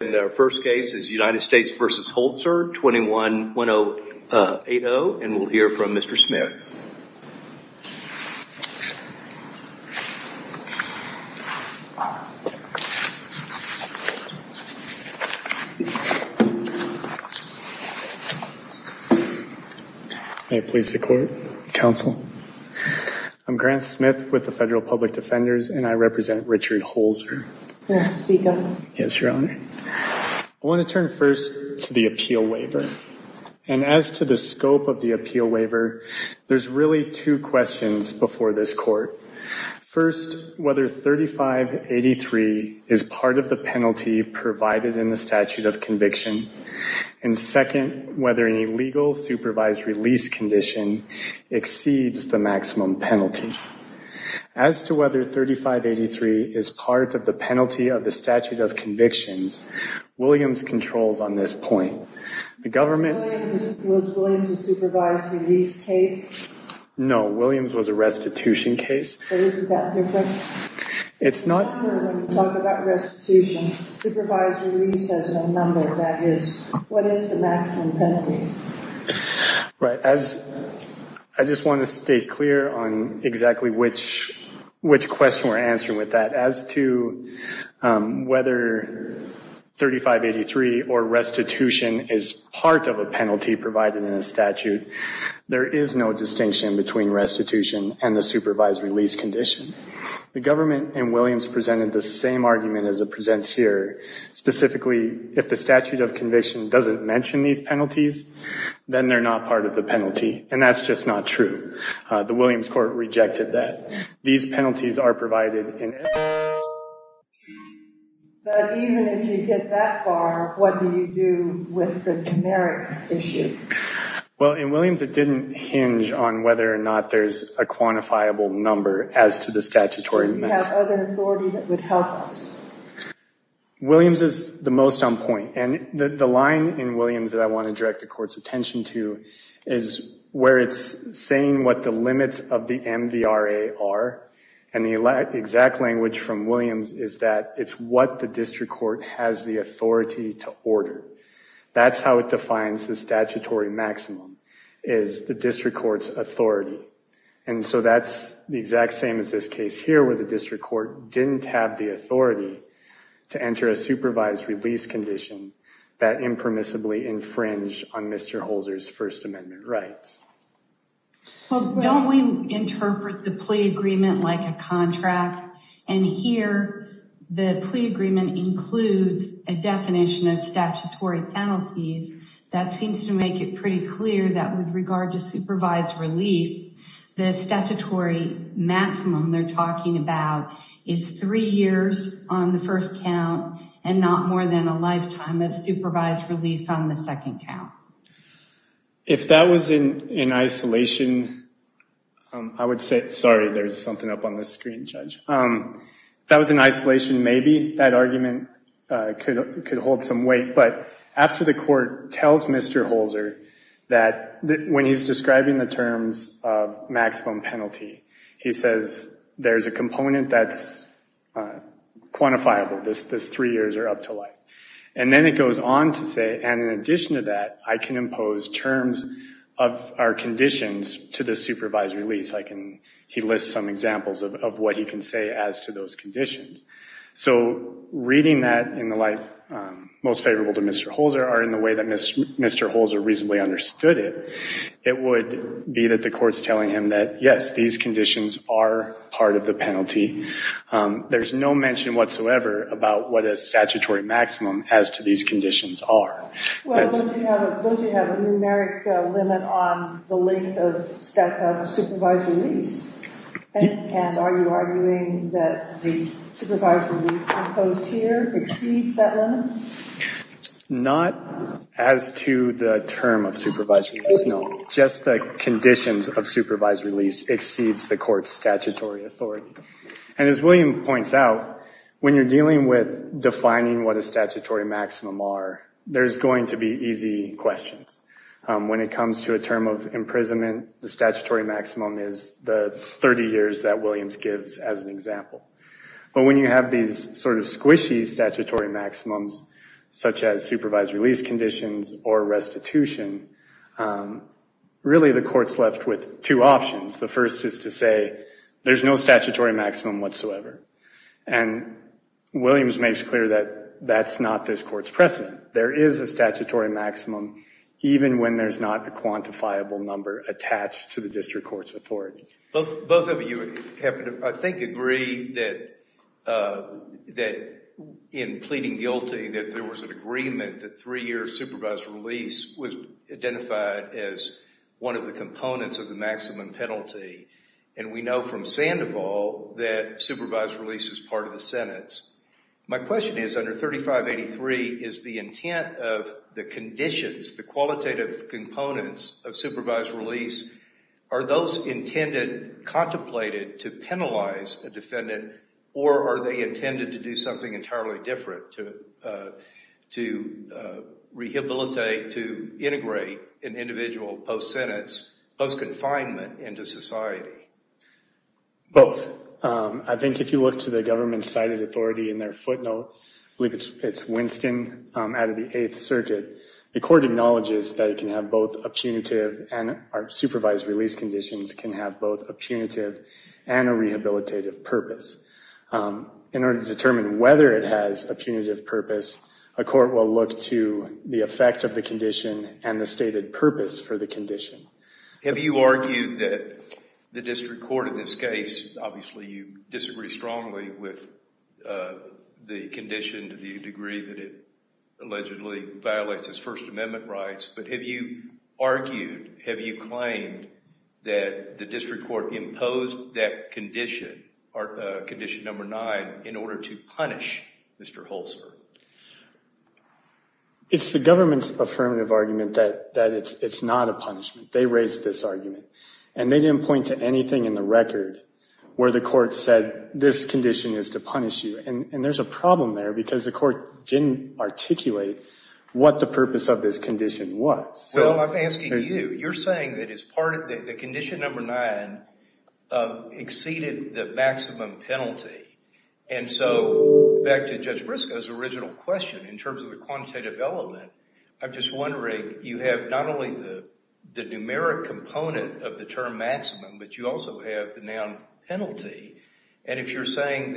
And our first case is United States v. Holzer, 21-1080, and we'll hear from Mr. Smith. May it please the Court, Counsel. I'm Grant Smith with the Federal Public Defenders, and I represent Richard Holzer. May I speak, Your Honor? Yes, Your Honor. I want to turn first to the appeal waiver. And as to the scope of the appeal waiver, there's really two questions before this Court. First, whether 3583 is part of the penalty provided in the statute of conviction. And second, whether an illegal supervised release condition exceeds the maximum penalty. As to whether 3583 is part of the penalty of the statute of convictions, Williams controls on this point. Was Williams a supervised release case? No, Williams was a restitution case. So is it that different? It's not. When you talk about restitution, supervised release has no number, that is. What is the maximum penalty? Right. I just want to stay clear on exactly which question we're answering with that. As to whether 3583 or restitution is part of a penalty provided in a statute, there is no distinction between restitution and the supervised release condition. The government in Williams presented the same argument as it presents here. Specifically, if the statute of conviction doesn't mention these penalties, then they're not part of the penalty. And that's just not true. The Williams Court rejected that. These penalties are provided in every statute. But even if you get that far, what do you do with the generic issue? Well, in Williams it didn't hinge on whether or not there's a quantifiable number as to the statutory maximum. Do you have other authority that would help us? Williams is the most on point. And the line in Williams that I want to direct the Court's attention to is where it's saying what the limits of the MVRA are. And the exact language from Williams is that it's what the district court has the authority to order. That's how it defines the statutory maximum, is the district court's authority. And so that's the exact same as this case here where the district court didn't have the authority to enter a supervised release condition that impermissibly infringe on Mr. Holzer's First Amendment rights. Well, don't we interpret the plea agreement like a contract? And here the plea agreement includes a definition of statutory penalties that seems to make it pretty clear that with regard to supervised release, the statutory maximum they're talking about is three years on the first count and not more than a lifetime of supervised release on the second count. If that was in isolation, I would say, sorry, there's something up on the screen, Judge. If that was in isolation, maybe that argument could hold some weight. But after the Court tells Mr. Holzer that when he's describing the terms of maximum penalty, he says there's a component that's quantifiable, this three years are up to life. And then it goes on to say, and in addition to that, I can impose terms of our conditions to the supervised release. He lists some examples of what he can say as to those conditions. So reading that in the light most favorable to Mr. Holzer or in the way that Mr. Holzer reasonably understood it, it would be that the Court's telling him that, yes, these conditions are part of the penalty. There's no mention whatsoever about what a statutory maximum as to these conditions are. Well, don't you have a numeric limit on the length of supervised release? And are you arguing that the supervised release imposed here exceeds that limit? Not as to the term of supervised release, no. Just the conditions of supervised release exceeds the Court's statutory authority. And as William points out, when you're dealing with defining what a statutory maximum are, there's going to be easy questions. When it comes to a term of imprisonment, the statutory maximum is the 30 years that Williams gives as an example. But when you have these sort of squishy statutory maximums, such as supervised release conditions or restitution, really the Court's left with two options. The first is to say there's no statutory maximum whatsoever. And Williams makes clear that that's not this Court's precedent. There is a statutory maximum even when there's not a quantifiable number attached to the district court's authority. Both of you happen to, I think, agree that in pleading guilty that there was an agreement that three years' supervised release was identified as one of the components of the maximum penalty. And we know from Sandoval that supervised release is part of the sentence. My question is, under 3583, is the intent of the conditions, the qualitative components of supervised release, are those intended, contemplated, to penalize a defendant? Or are they intended to do something entirely different, to rehabilitate, to integrate an individual post-sentence, post-confinement into society? Both. I think if you look to the government cited authority in their footnote, I believe it's Winston out of the Eighth Circuit, the Court acknowledges that it can have both a punitive, and our supervised release conditions can have both a punitive and a rehabilitative purpose. In order to determine whether it has a punitive purpose, a court will look to the effect of the condition and the stated purpose for the condition. Have you argued that the district court in this case, obviously you disagree strongly with the condition to the degree that it allegedly violates its First Amendment rights, but have you argued, have you claimed that the district court imposed that condition, condition number nine, in order to punish Mr. Holster? It's the government's affirmative argument that it's not a punishment. They raised this argument. And they didn't point to anything in the record where the court said this condition is to punish you. And there's a problem there because the court didn't articulate what the purpose of this condition was. Well, I'm asking you. You're saying that it's part of the condition number nine exceeded the maximum penalty. And so back to Judge Briscoe's original question in terms of the quantitative element, I'm just wondering, you have not only the numeric component of the term maximum, but you also have the noun penalty. And if you're saying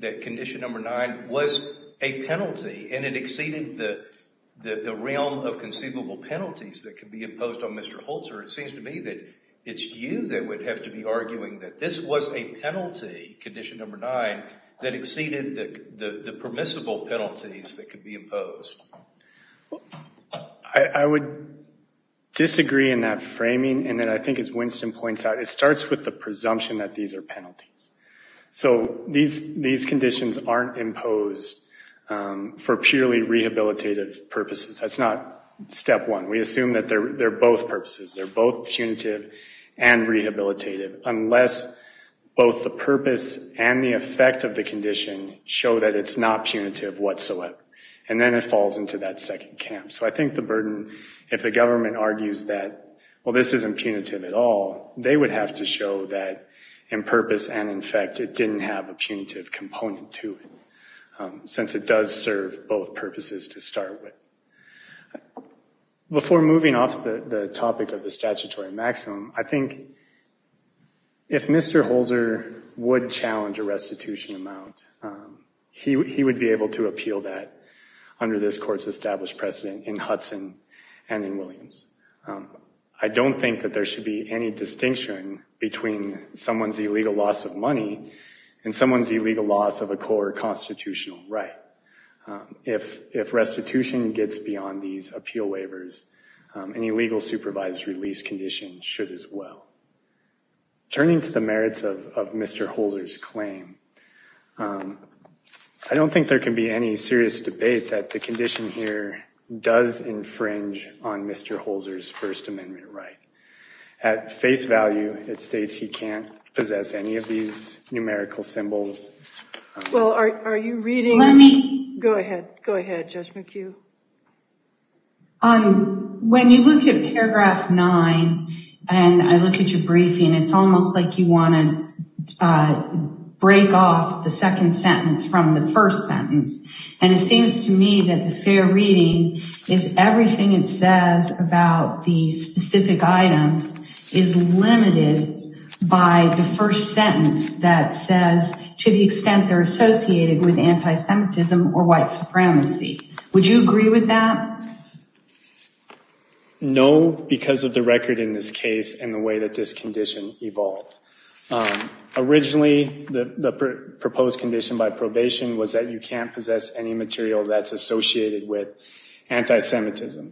that condition number nine was a penalty and it exceeded the realm of conceivable penalties that could be imposed on Mr. Holster, it seems to me that it's you that would have to be arguing that this was a penalty, condition number nine, that exceeded the permissible penalties that could be imposed. I would disagree in that framing. And then I think, as Winston points out, it starts with the presumption that these are penalties. So these conditions aren't imposed for purely rehabilitative purposes. That's not step one. We assume that they're both purposes. They're both punitive and rehabilitative unless both the purpose and the effect of the condition show that it's not punitive whatsoever. And then it falls into that second camp. So I think the burden, if the government argues that, well, this isn't punitive at all, they would have to show that in purpose and in effect it didn't have a punitive component to it since it does serve both purposes to start with. Before moving off the topic of the statutory maximum, I think if Mr. Holster would challenge a restitution amount, he would be able to appeal that under this court's established precedent in Hudson and in Williams. I don't think that there should be any distinction between someone's illegal loss of money and someone's illegal loss of a core constitutional right. If restitution gets beyond these appeal waivers, an illegal supervised release condition should as well. Turning to the merits of Mr. Holster's claim, I don't think there can be any serious debate that the condition here does infringe on Mr. Holster's First Amendment right. At face value, it states he can't possess any of these numerical symbols. Well, are you reading? Let me. Go ahead. Go ahead, Judge McHugh. When you look at paragraph nine and I look at your briefing, it's almost like you want to break off the second sentence from the first sentence. And it seems to me that the fair reading is everything it says about the specific items is limited by the first sentence that says to the extent they're associated with antisemitism or white supremacy. Would you agree with that? No, because of the record in this case and the way that this condition evolved. Originally, the proposed condition by probation was that you can't possess any material that's associated with antisemitism.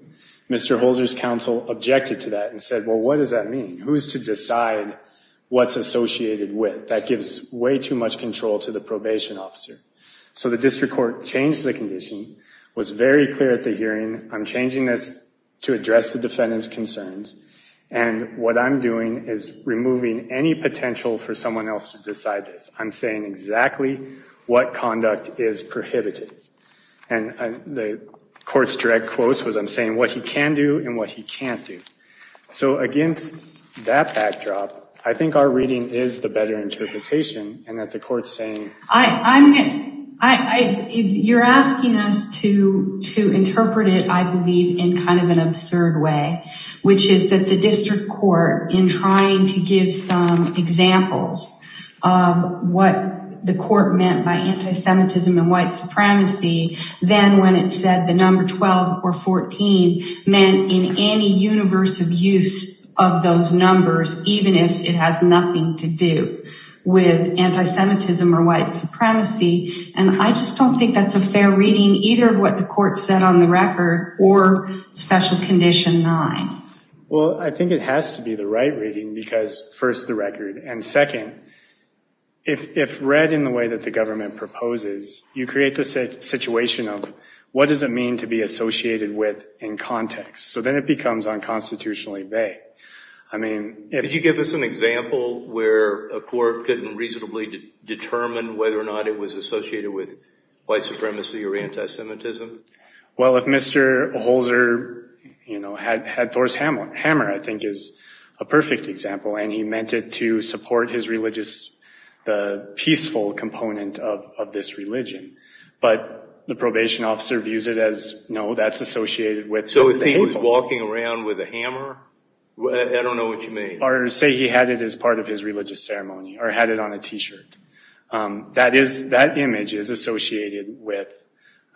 Mr. Holster's counsel objected to that and said, well, what does that mean? Who's to decide what's associated with that gives way too much control to the probation officer. So the district court changed the condition, was very clear at the hearing. I'm changing this to address the defendant's concerns. And what I'm doing is removing any potential for someone else to decide this. I'm saying exactly what conduct is prohibited. And the court's direct quotes was I'm saying what he can do and what he can't do. So against that backdrop, I think our reading is the better interpretation and that the court's saying. You're asking us to interpret it, I believe, in kind of an absurd way, which is that the district court in trying to give some examples of what the court meant by antisemitism and white supremacy. Then when it said the number 12 or 14 meant in any universe of use of those numbers, even if it has nothing to do with antisemitism or white supremacy. And I just don't think that's a fair reading, either of what the court said on the record or special condition nine. Well, I think it has to be the right reading because, first, the record. And second, if read in the way that the government proposes, you create the situation of what does it mean to be associated with in context? So then it becomes unconstitutionally vague. Could you give us an example where a court couldn't reasonably determine whether or not it was associated with white supremacy or antisemitism? Well, if Mr. Holzer had Thor's hammer, I think is a perfect example. And he meant it to support his religious, the peaceful component of this religion. But the probation officer views it as, no, that's associated with. So if he was walking around with a hammer, I don't know what you mean. Or say he had it as part of his religious ceremony or had it on a T-shirt. That image is associated with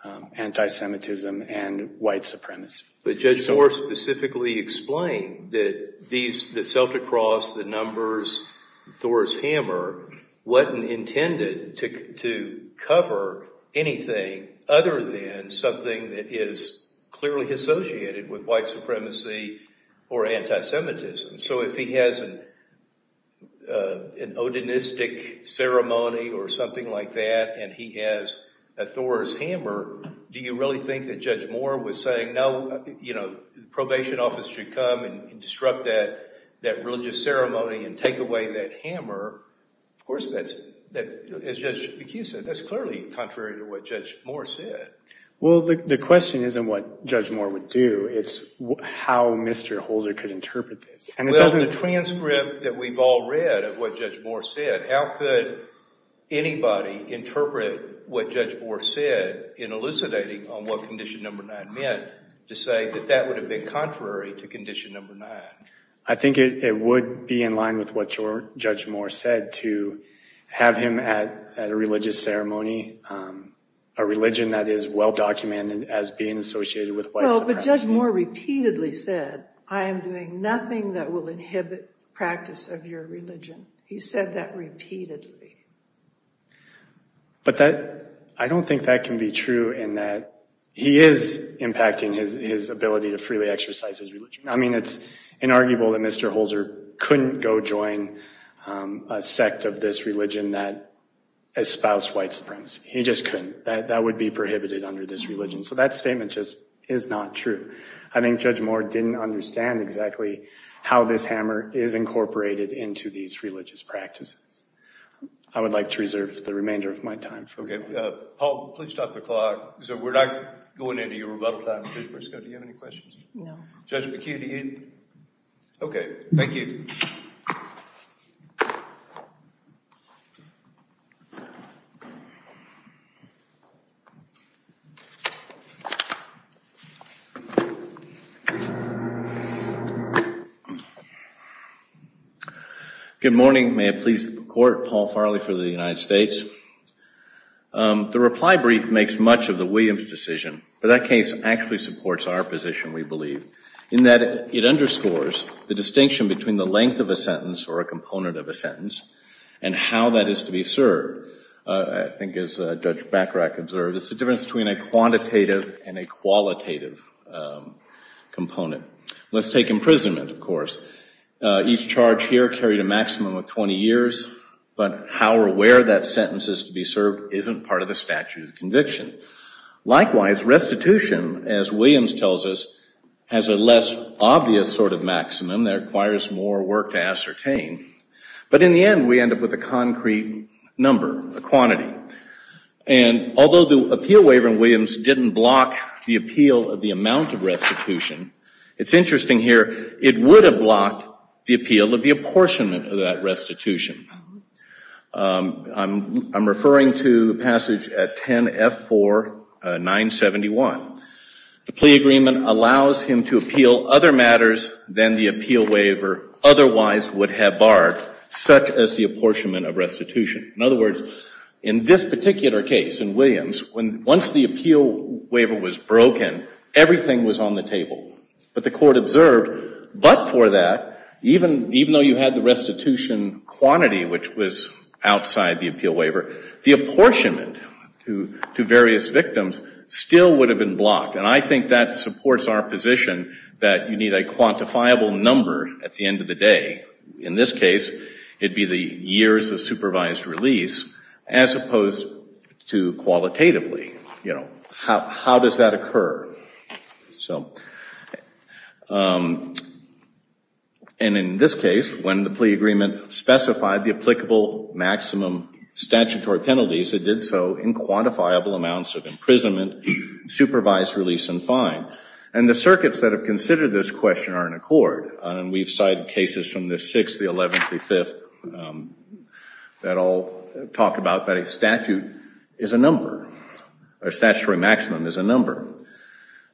antisemitism and white supremacy. But Judge Moore specifically explained that the Celtic cross, the numbers, Thor's hammer, wasn't intended to cover anything other than something that is clearly associated with white supremacy or antisemitism. So if he has an odinistic ceremony or something like that and he has a Thor's hammer, do you really think that Judge Moore was saying, no, the probation officer should come and disrupt that religious ceremony and take away that hammer? Of course, as Judge McHugh said, that's clearly contrary to what Judge Moore said. Well, the question isn't what Judge Moore would do. It's how Mr. Holder could interpret this. Well, in the transcript that we've all read of what Judge Moore said, how could anybody interpret what Judge Moore said in elucidating on what Condition No. 9 meant to say that that would have been contrary to Condition No. 9? I think it would be in line with what Judge Moore said to have him at a religious ceremony, a religion that is well-documented as being associated with white supremacy. But Judge Moore repeatedly said, I am doing nothing that will inhibit practice of your religion. He said that repeatedly. But I don't think that can be true in that he is impacting his ability to freely exercise his religion. I mean, it's inarguable that Mr. Holder couldn't go join a sect of this religion that espoused white supremacy. He just couldn't. That would be prohibited under this religion. So that statement just is not true. I think Judge Moore didn't understand exactly how this hammer is incorporated into these religious practices. I would like to reserve the remainder of my time. Okay. Paul, please stop the clock. So we're not going into your rebuttal time. Do you have any questions? No. Judge McKinney. Okay. Thank you. Good morning. May it please the Court. Paul Farley for the United States. The reply brief makes much of the Williams decision. But that case actually supports our position, we believe, in that it underscores the distinction between the length of a sentence or a component of a sentence and how that is to be served. I think, as Judge Bacharach observed, it's the difference between a quantitative and a quantitative sentence. A quantitative and a qualitative component. Let's take imprisonment, of course. Each charge here carried a maximum of 20 years, but how or where that sentence is to be served isn't part of the statute of conviction. Likewise, restitution, as Williams tells us, has a less obvious sort of maximum that requires more work to ascertain. But in the end, we end up with a concrete number, a quantity. And although the appeal waiver in Williams didn't block the appeal of the amount of restitution, it's interesting here, it would have blocked the appeal of the apportionment of that restitution. I'm referring to passage 10F4971. The plea agreement allows him to appeal other matters than the appeal waiver otherwise would have barred, such as the apportionment of restitution. In other words, in this particular case in Williams, once the appeal waiver was broken, everything was on the table. But the court observed, but for that, even though you had the restitution quantity, which was outside the appeal waiver, the apportionment to various victims still would have been blocked. And I think that supports our position that you need a quantifiable number at the end of the day. In this case, it would be the years of supervised release as opposed to qualitatively. You know, how does that occur? And in this case, when the plea agreement specified the applicable maximum statutory penalties, it did so in quantifiable amounts of imprisonment, supervised release, and fine. And the circuits that have considered this question are in accord. And we've cited cases from the 6th, the 11th, the 5th that all talk about that a statute is a number, or statutory maximum is a number.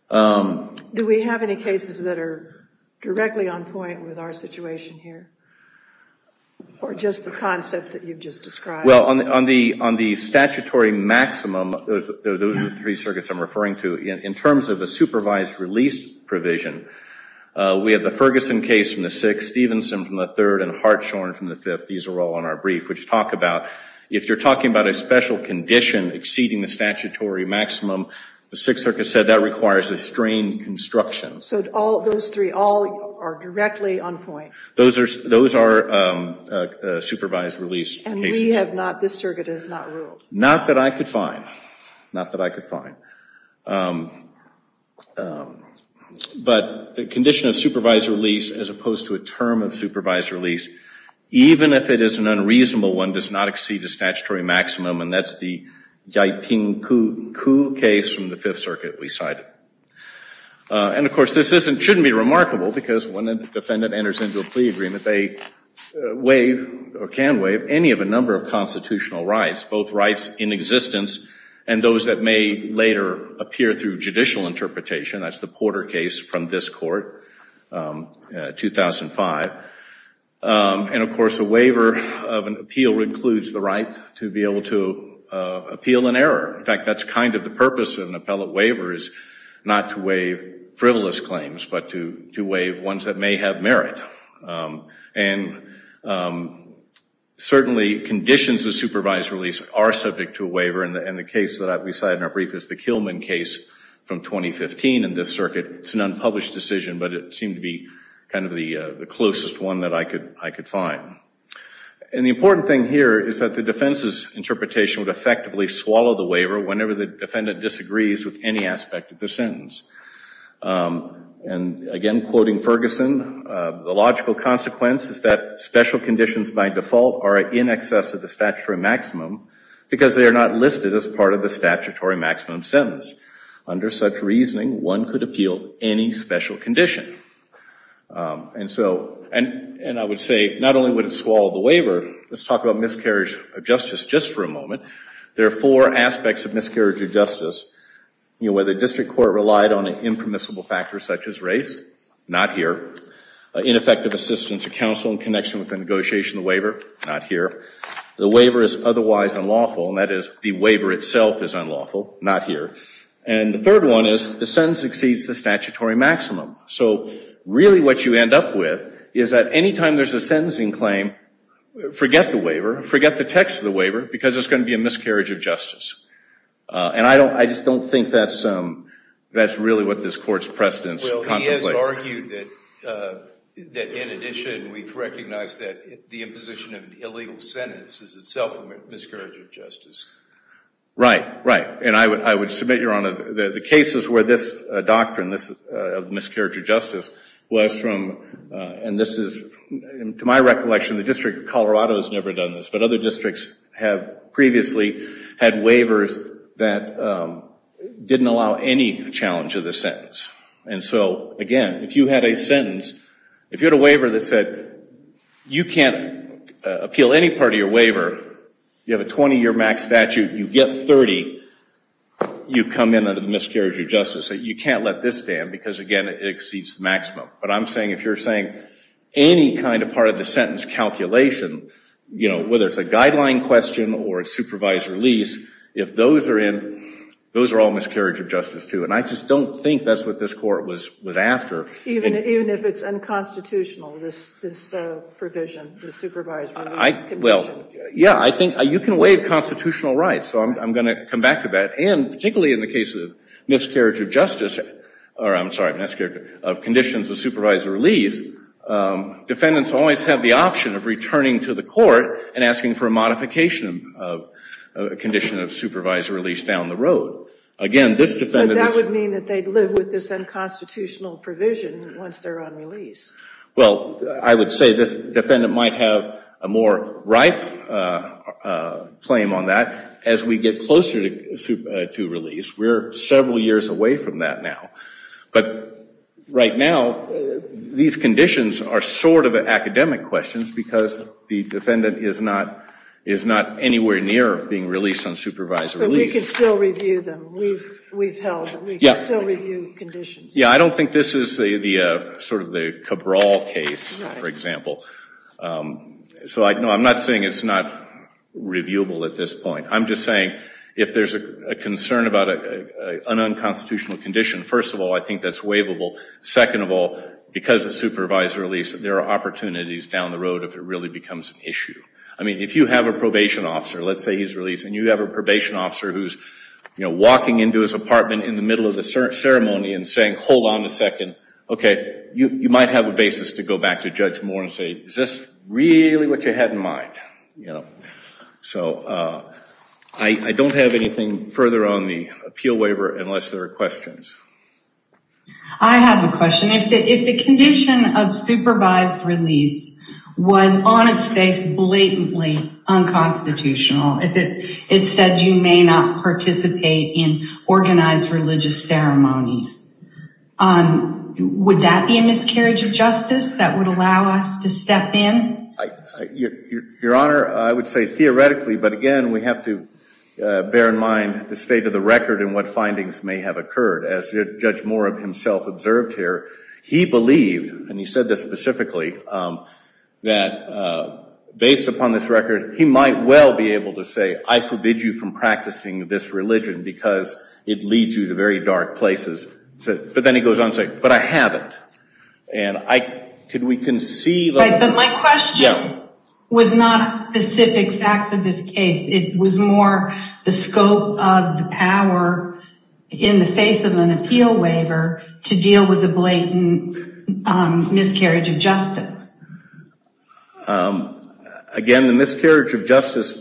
Do we have any cases that are directly on point with our situation here, or just the concept that you've just described? Well, on the statutory maximum, those are the three circuits I'm referring to. In terms of a supervised release provision, we have the Ferguson case from the 6th, Stevenson from the 3rd, and Hartshorn from the 5th. These are all on our brief, which talk about if you're talking about a special condition exceeding the statutory maximum, the 6th circuit said that requires a strain construction. So those three all are directly on point? Those are supervised release cases. And we have not, this circuit has not ruled? Not that I could find. Not that I could find. But the condition of supervised release, as opposed to a term of supervised release, even if it is an unreasonable one, does not exceed the statutory maximum, and that's the Yiping-Ku case from the 5th circuit we cited. And, of course, this shouldn't be remarkable, because when a defendant enters into a plea agreement, they waive or can waive any of a number of constitutional rights, both rights in existence and those that may later appear through judicial interpretation. That's the Porter case from this Court, 2005. And, of course, a waiver of an appeal includes the right to be able to appeal an error. In fact, that's kind of the purpose of an appellate waiver is not to waive frivolous claims, but to waive ones that may have merit. And certainly conditions of supervised release are subject to a waiver, and the case that we cited in our brief is the Kilman case from 2015 in this circuit. It's an unpublished decision, but it seemed to be kind of the closest one that I could find. And the important thing here is that the defense's interpretation would effectively swallow the waiver And, again, quoting Ferguson, the logical consequence is that special conditions by default are in excess of the statutory maximum because they are not listed as part of the statutory maximum sentence. Under such reasoning, one could appeal any special condition. And I would say not only would it swallow the waiver. Let's talk about miscarriage of justice just for a moment. There are four aspects of miscarriage of justice. You know, whether district court relied on an impermissible factor such as race, not here. Ineffective assistance to counsel in connection with the negotiation of the waiver, not here. The waiver is otherwise unlawful, and that is the waiver itself is unlawful, not here. And the third one is the sentence exceeds the statutory maximum. So really what you end up with is that any time there's a sentencing claim, forget the waiver, forget the text of the waiver because it's going to be a miscarriage of justice. And I just don't think that's really what this court's precedence contemplates. Well, he has argued that, in addition, we've recognized that the imposition of an illegal sentence is itself a miscarriage of justice. Right, right. And I would submit, Your Honor, that the cases where this doctrine of miscarriage of justice was from, and this is, to my recollection, the District of Colorado has never done this, but other districts have previously had waivers that didn't allow any challenge of the sentence. And so, again, if you had a sentence, if you had a waiver that said you can't appeal any part of your waiver, you have a 20-year max statute, you get 30, you come in under the miscarriage of justice. You can't let this stand because, again, it exceeds the maximum. But I'm saying if you're saying any kind of part of the sentence calculation, you know, whether it's a guideline question or a supervised release, if those are in, those are all miscarriage of justice, too. And I just don't think that's what this court was after. Even if it's unconstitutional, this provision, the supervised release condition? Well, yeah, I think you can waive constitutional rights, so I'm going to come back to that. And particularly in the case of miscarriage of justice, or I'm sorry, miscarriage of conditions of supervised release, defendants always have the option of returning to the court and asking for a modification of a condition of supervised release down the road. Again, this defendant is- But that would mean that they'd live with this unconstitutional provision once they're on release. Well, I would say this defendant might have a more ripe claim on that as we get closer to release. We're several years away from that now. But right now, these conditions are sort of academic questions because the defendant is not anywhere near being released on supervised release. But we can still review them. We've held- Yeah. We can still review conditions. Yeah, I don't think this is sort of the Cabral case, for example. So, no, I'm not saying it's not reviewable at this point. I'm just saying if there's a concern about an unconstitutional condition, first of all, I think that's waivable. Second of all, because it's supervised release, there are opportunities down the road if it really becomes an issue. I mean, if you have a probation officer, let's say he's released, and you have a probation officer who's walking into his apartment in the middle of the ceremony and saying, hold on a second, okay, you might have a basis to go back to judge Moore and say, is this really what you had in mind? So I don't have anything further on the appeal waiver unless there are questions. I have a question. If the condition of supervised release was on its face blatantly unconstitutional, if it said you may not participate in organized religious ceremonies, would that be a miscarriage of justice that would allow us to step in? Your Honor, I would say theoretically, but, again, we have to bear in mind the state of the record and what findings may have occurred. As Judge Moore himself observed here, he believed, and he said this specifically, that based upon this record, he might well be able to say, I forbid you from practicing this religion because it leads you to very dark places. But then he goes on to say, but I haven't. And could we conceive of – But my question was not specific facts of this case. It was more the scope of the power in the face of an appeal waiver to deal with a blatant miscarriage of justice. Again, the miscarriage of justice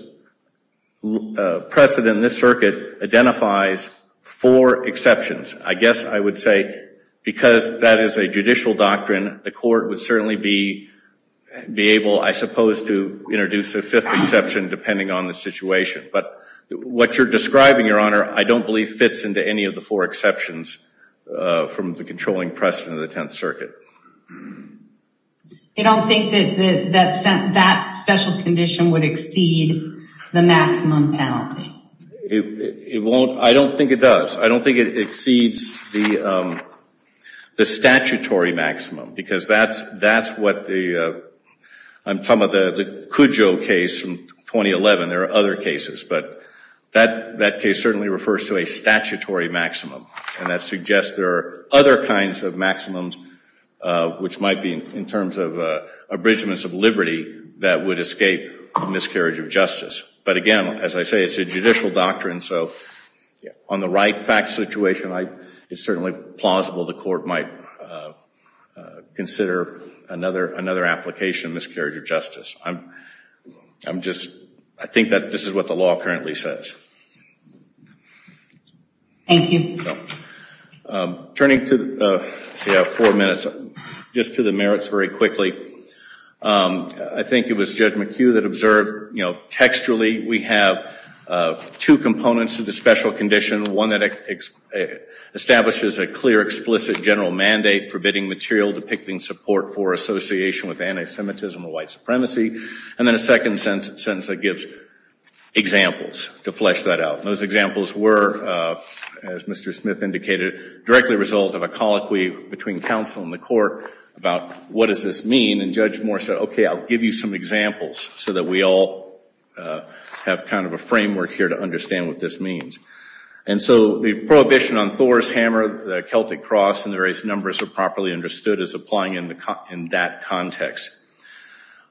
precedent in this circuit identifies four exceptions. I guess I would say because that is a judicial doctrine, the court would certainly be able, I suppose, to introduce a fifth exception depending on the situation. But what you're describing, Your Honor, I don't believe fits into any of the four exceptions from the controlling precedent of the Tenth Circuit. You don't think that that special condition would exceed the maximum penalty? I don't think it does. It exceeds the statutory maximum because that's what the – I'm talking about the Cudjoe case from 2011. There are other cases. But that case certainly refers to a statutory maximum. And that suggests there are other kinds of maximums, which might be in terms of abridgments of liberty, that would escape miscarriage of justice. But again, as I say, it's a judicial doctrine. So on the right fact situation, it's certainly plausible the court might consider another application of miscarriage of justice. I'm just – I think that this is what the law currently says. Thank you. Turning to – we have four minutes. Just to the merits very quickly. I think it was Judge McHugh that observed, you know, textually we have two components to the special condition. One that establishes a clear, explicit general mandate forbidding material depicting support for association with anti-Semitism or white supremacy. And then a second sentence that gives examples to flesh that out. Those examples were, as Mr. Smith indicated, directly a result of a colloquy between counsel and the court about what does this mean. And Judge Moore said, okay, I'll give you some examples so that we all have kind of a framework here to understand what this means. And so the prohibition on Thor's hammer, the Celtic cross, and the various numbers are properly understood as applying in that context.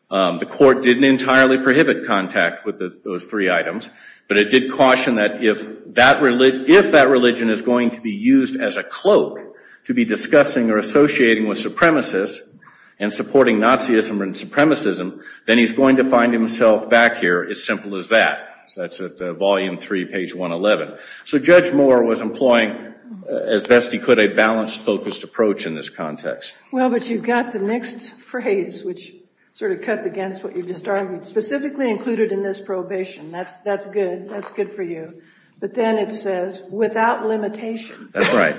The court didn't entirely prohibit contact with those three items. But it did caution that if that religion is going to be used as a cloak to be discussing or associating with supremacists and supporting Nazism and supremacism, then he's going to find himself back here as simple as that. So that's at volume three, page 111. So Judge Moore was employing, as best he could, a balanced, focused approach in this context. Well, but you've got the next phrase, which sort of cuts against what you've just argued. Specifically included in this prohibition. That's good. That's good for you. But then it says, without limitation. That's right.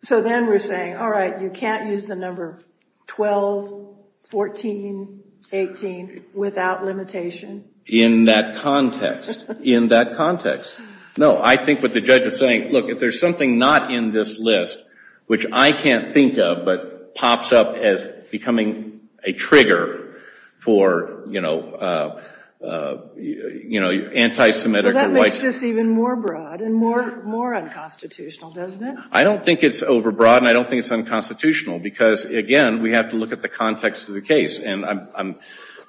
So then we're saying, all right, you can't use the number 12, 14, 18 without limitation. In that context. In that context. No, I think what the judge is saying, look, if there's something not in this list, which I can't think of, but pops up as becoming a trigger for, you know, anti-Semitic. That makes this even more broad and more unconstitutional, doesn't it? I don't think it's overbroad, and I don't think it's unconstitutional. Because, again, we have to look at the context of the case. And I'm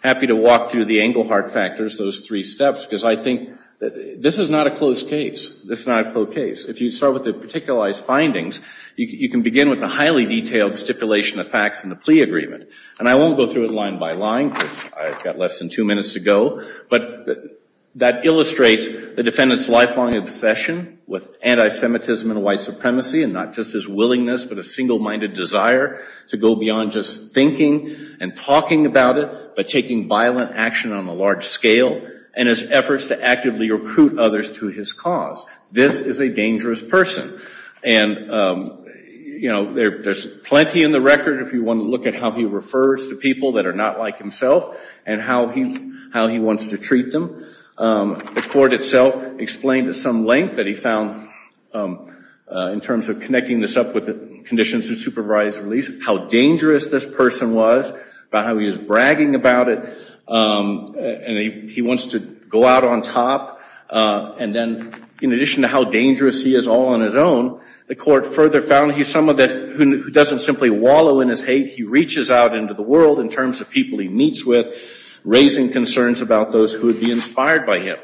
happy to walk through the Engelhardt factors, those three steps. Because I think this is not a closed case. This is not a closed case. If you start with the particularized findings, you can begin with the highly detailed stipulation of facts in the plea agreement. And I won't go through it line by line, because I've got less than two minutes to go. But that illustrates the defendant's lifelong obsession with anti-Semitism and white supremacy. And not just his willingness, but a single-minded desire to go beyond just thinking and talking about it. By taking violent action on a large scale. And his efforts to actively recruit others to his cause. This is a dangerous person. And, you know, there's plenty in the record if you want to look at how he refers to people that are not like himself. And how he wants to treat them. The court itself explained at some length that he found, in terms of connecting this up with the conditions of supervised release, how dangerous this person was, about how he was bragging about it. And he wants to go out on top. And then, in addition to how dangerous he is all on his own, the court further found he's someone who doesn't simply wallow in his hate. He reaches out into the world in terms of people he meets with, raising concerns about those who would be inspired by him.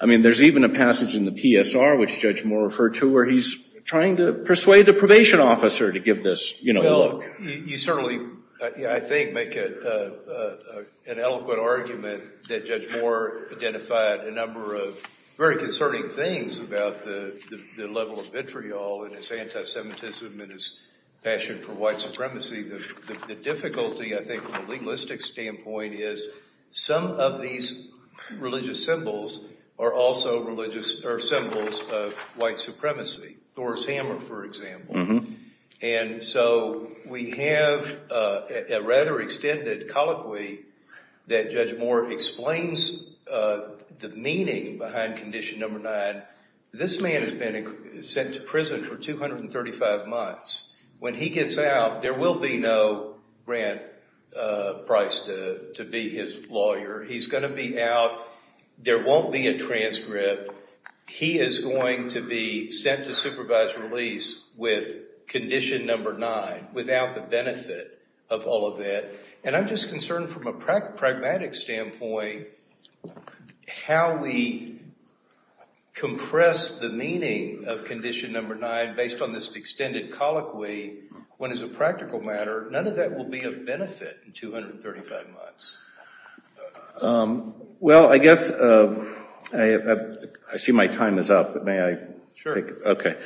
I mean, there's even a passage in the PSR, which Judge Moore referred to, where he's trying to persuade a probation officer to give this look. You certainly, I think, make an eloquent argument that Judge Moore identified a number of very concerning things about the level of vitriol in his anti-Semitism and his passion for white supremacy. The difficulty, I think, from a legalistic standpoint is some of these religious symbols are also symbols of white supremacy. Thor's hammer, for example. And so we have a rather extended colloquy that Judge Moore explains the meaning behind condition number nine. This man has been sent to prison for 235 months. When he gets out, there will be no grant price to be his lawyer. He's going to be out. There won't be a transcript. He is going to be sent to supervised release with condition number nine without the benefit of all of that. And I'm just concerned from a pragmatic standpoint how we compress the meaning of condition number nine based on this extended colloquy when, as a practical matter, none of that will be of benefit in 235 months. Well, I guess I see my time is up. May I? Sure. Okay.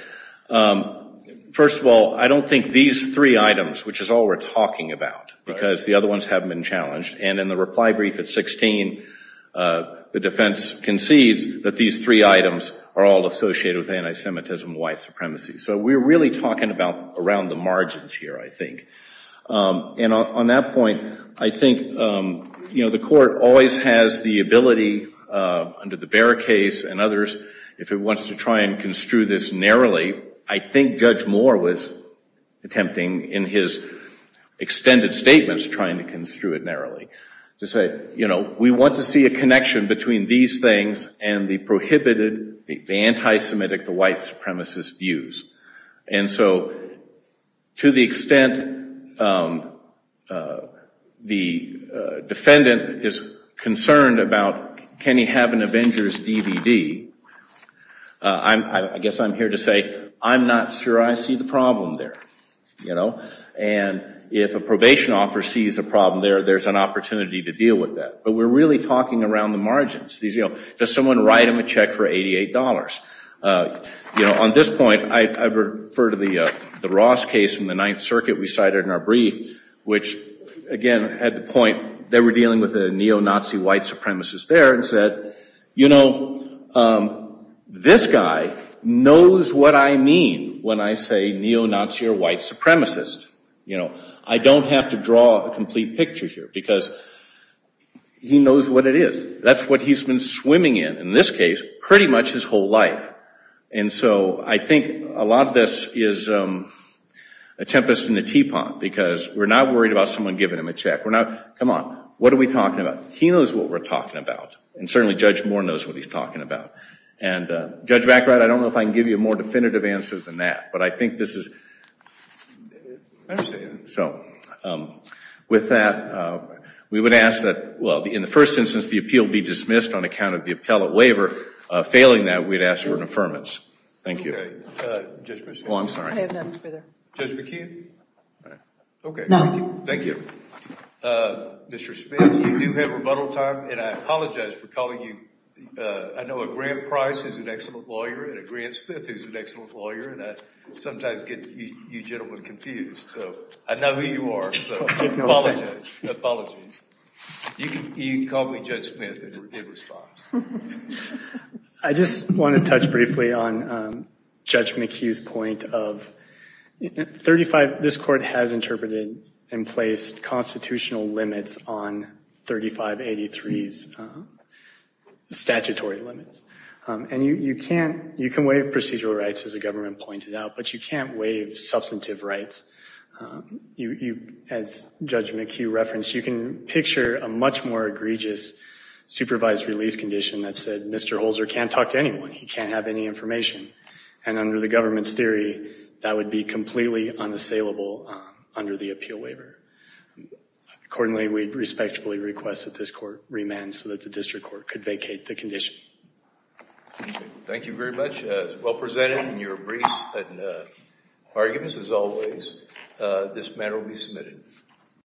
First of all, I don't think these three items, which is all we're talking about, because the other ones haven't been challenged. And in the reply brief at 16, the defense concedes that these three items are all associated with anti-Semitism and white supremacy. So we're really talking about around the margins here, I think. And on that point, I think, you know, the court always has the ability under the Barra case and others if it wants to try and construe this narrowly. I think Judge Moore was attempting in his extended statements trying to construe it narrowly to say, you know, we want to see a connection between these things and the prohibited, the anti-Semitic, the white supremacist views. And so to the extent the defendant is concerned about can he have an Avengers DVD, I guess I'm here to say I'm not sure I see the problem there. You know? And if a probation officer sees a problem there, there's an opportunity to deal with that. But we're really talking around the margins. You know, does someone write him a check for $88? You know, on this point, I refer to the Ross case from the Ninth Circuit we cited in our brief, which, again, had the point they were dealing with a neo-Nazi white supremacist there and said, you know, this guy knows what I mean when I say neo-Nazi or white supremacist. You know, I don't have to draw a complete picture here because he knows what it is. That's what he's been swimming in, in this case, pretty much his whole life. And so I think a lot of this is a tempest in a teapot because we're not worried about someone giving him a check. We're not, come on, what are we talking about? He knows what we're talking about. And certainly Judge Moore knows what he's talking about. And Judge Baccarat, I don't know if I can give you a more definitive answer than that. But I think this is, so with that, we would ask that, well, in the first instance, the appeal be dismissed on account of the appellate waiver. Failing that, we'd ask for an affirmance. Thank you. Judge McKeon? Oh, I'm sorry. I have nothing further. Judge McKeon? Okay. No. Thank you. Mr. Smith, you do have rebuttal time. And I apologize for calling you. I know a Grant Price is an excellent lawyer and a Grant Smith is an excellent lawyer. And I sometimes get you gentlemen confused. So I know who you are. I take no offense. Apologies. You can call me Judge Smith in response. I just want to touch briefly on Judge McHugh's point of 35, this court has interpreted and placed constitutional limits on 3583's statutory limits. And you can waive procedural rights, as the government pointed out, but you can't waive substantive rights. As Judge McHugh referenced, you can picture a much more egregious supervised release condition that said, Mr. Holzer can't talk to anyone. He can't have any information. And under the government's theory, that would be completely unassailable under the appeal waiver. Accordingly, we respectfully request that this court remand so that the district court could vacate the condition. Thank you very much. Well presented in your briefs and arguments as always. This matter will be submitted.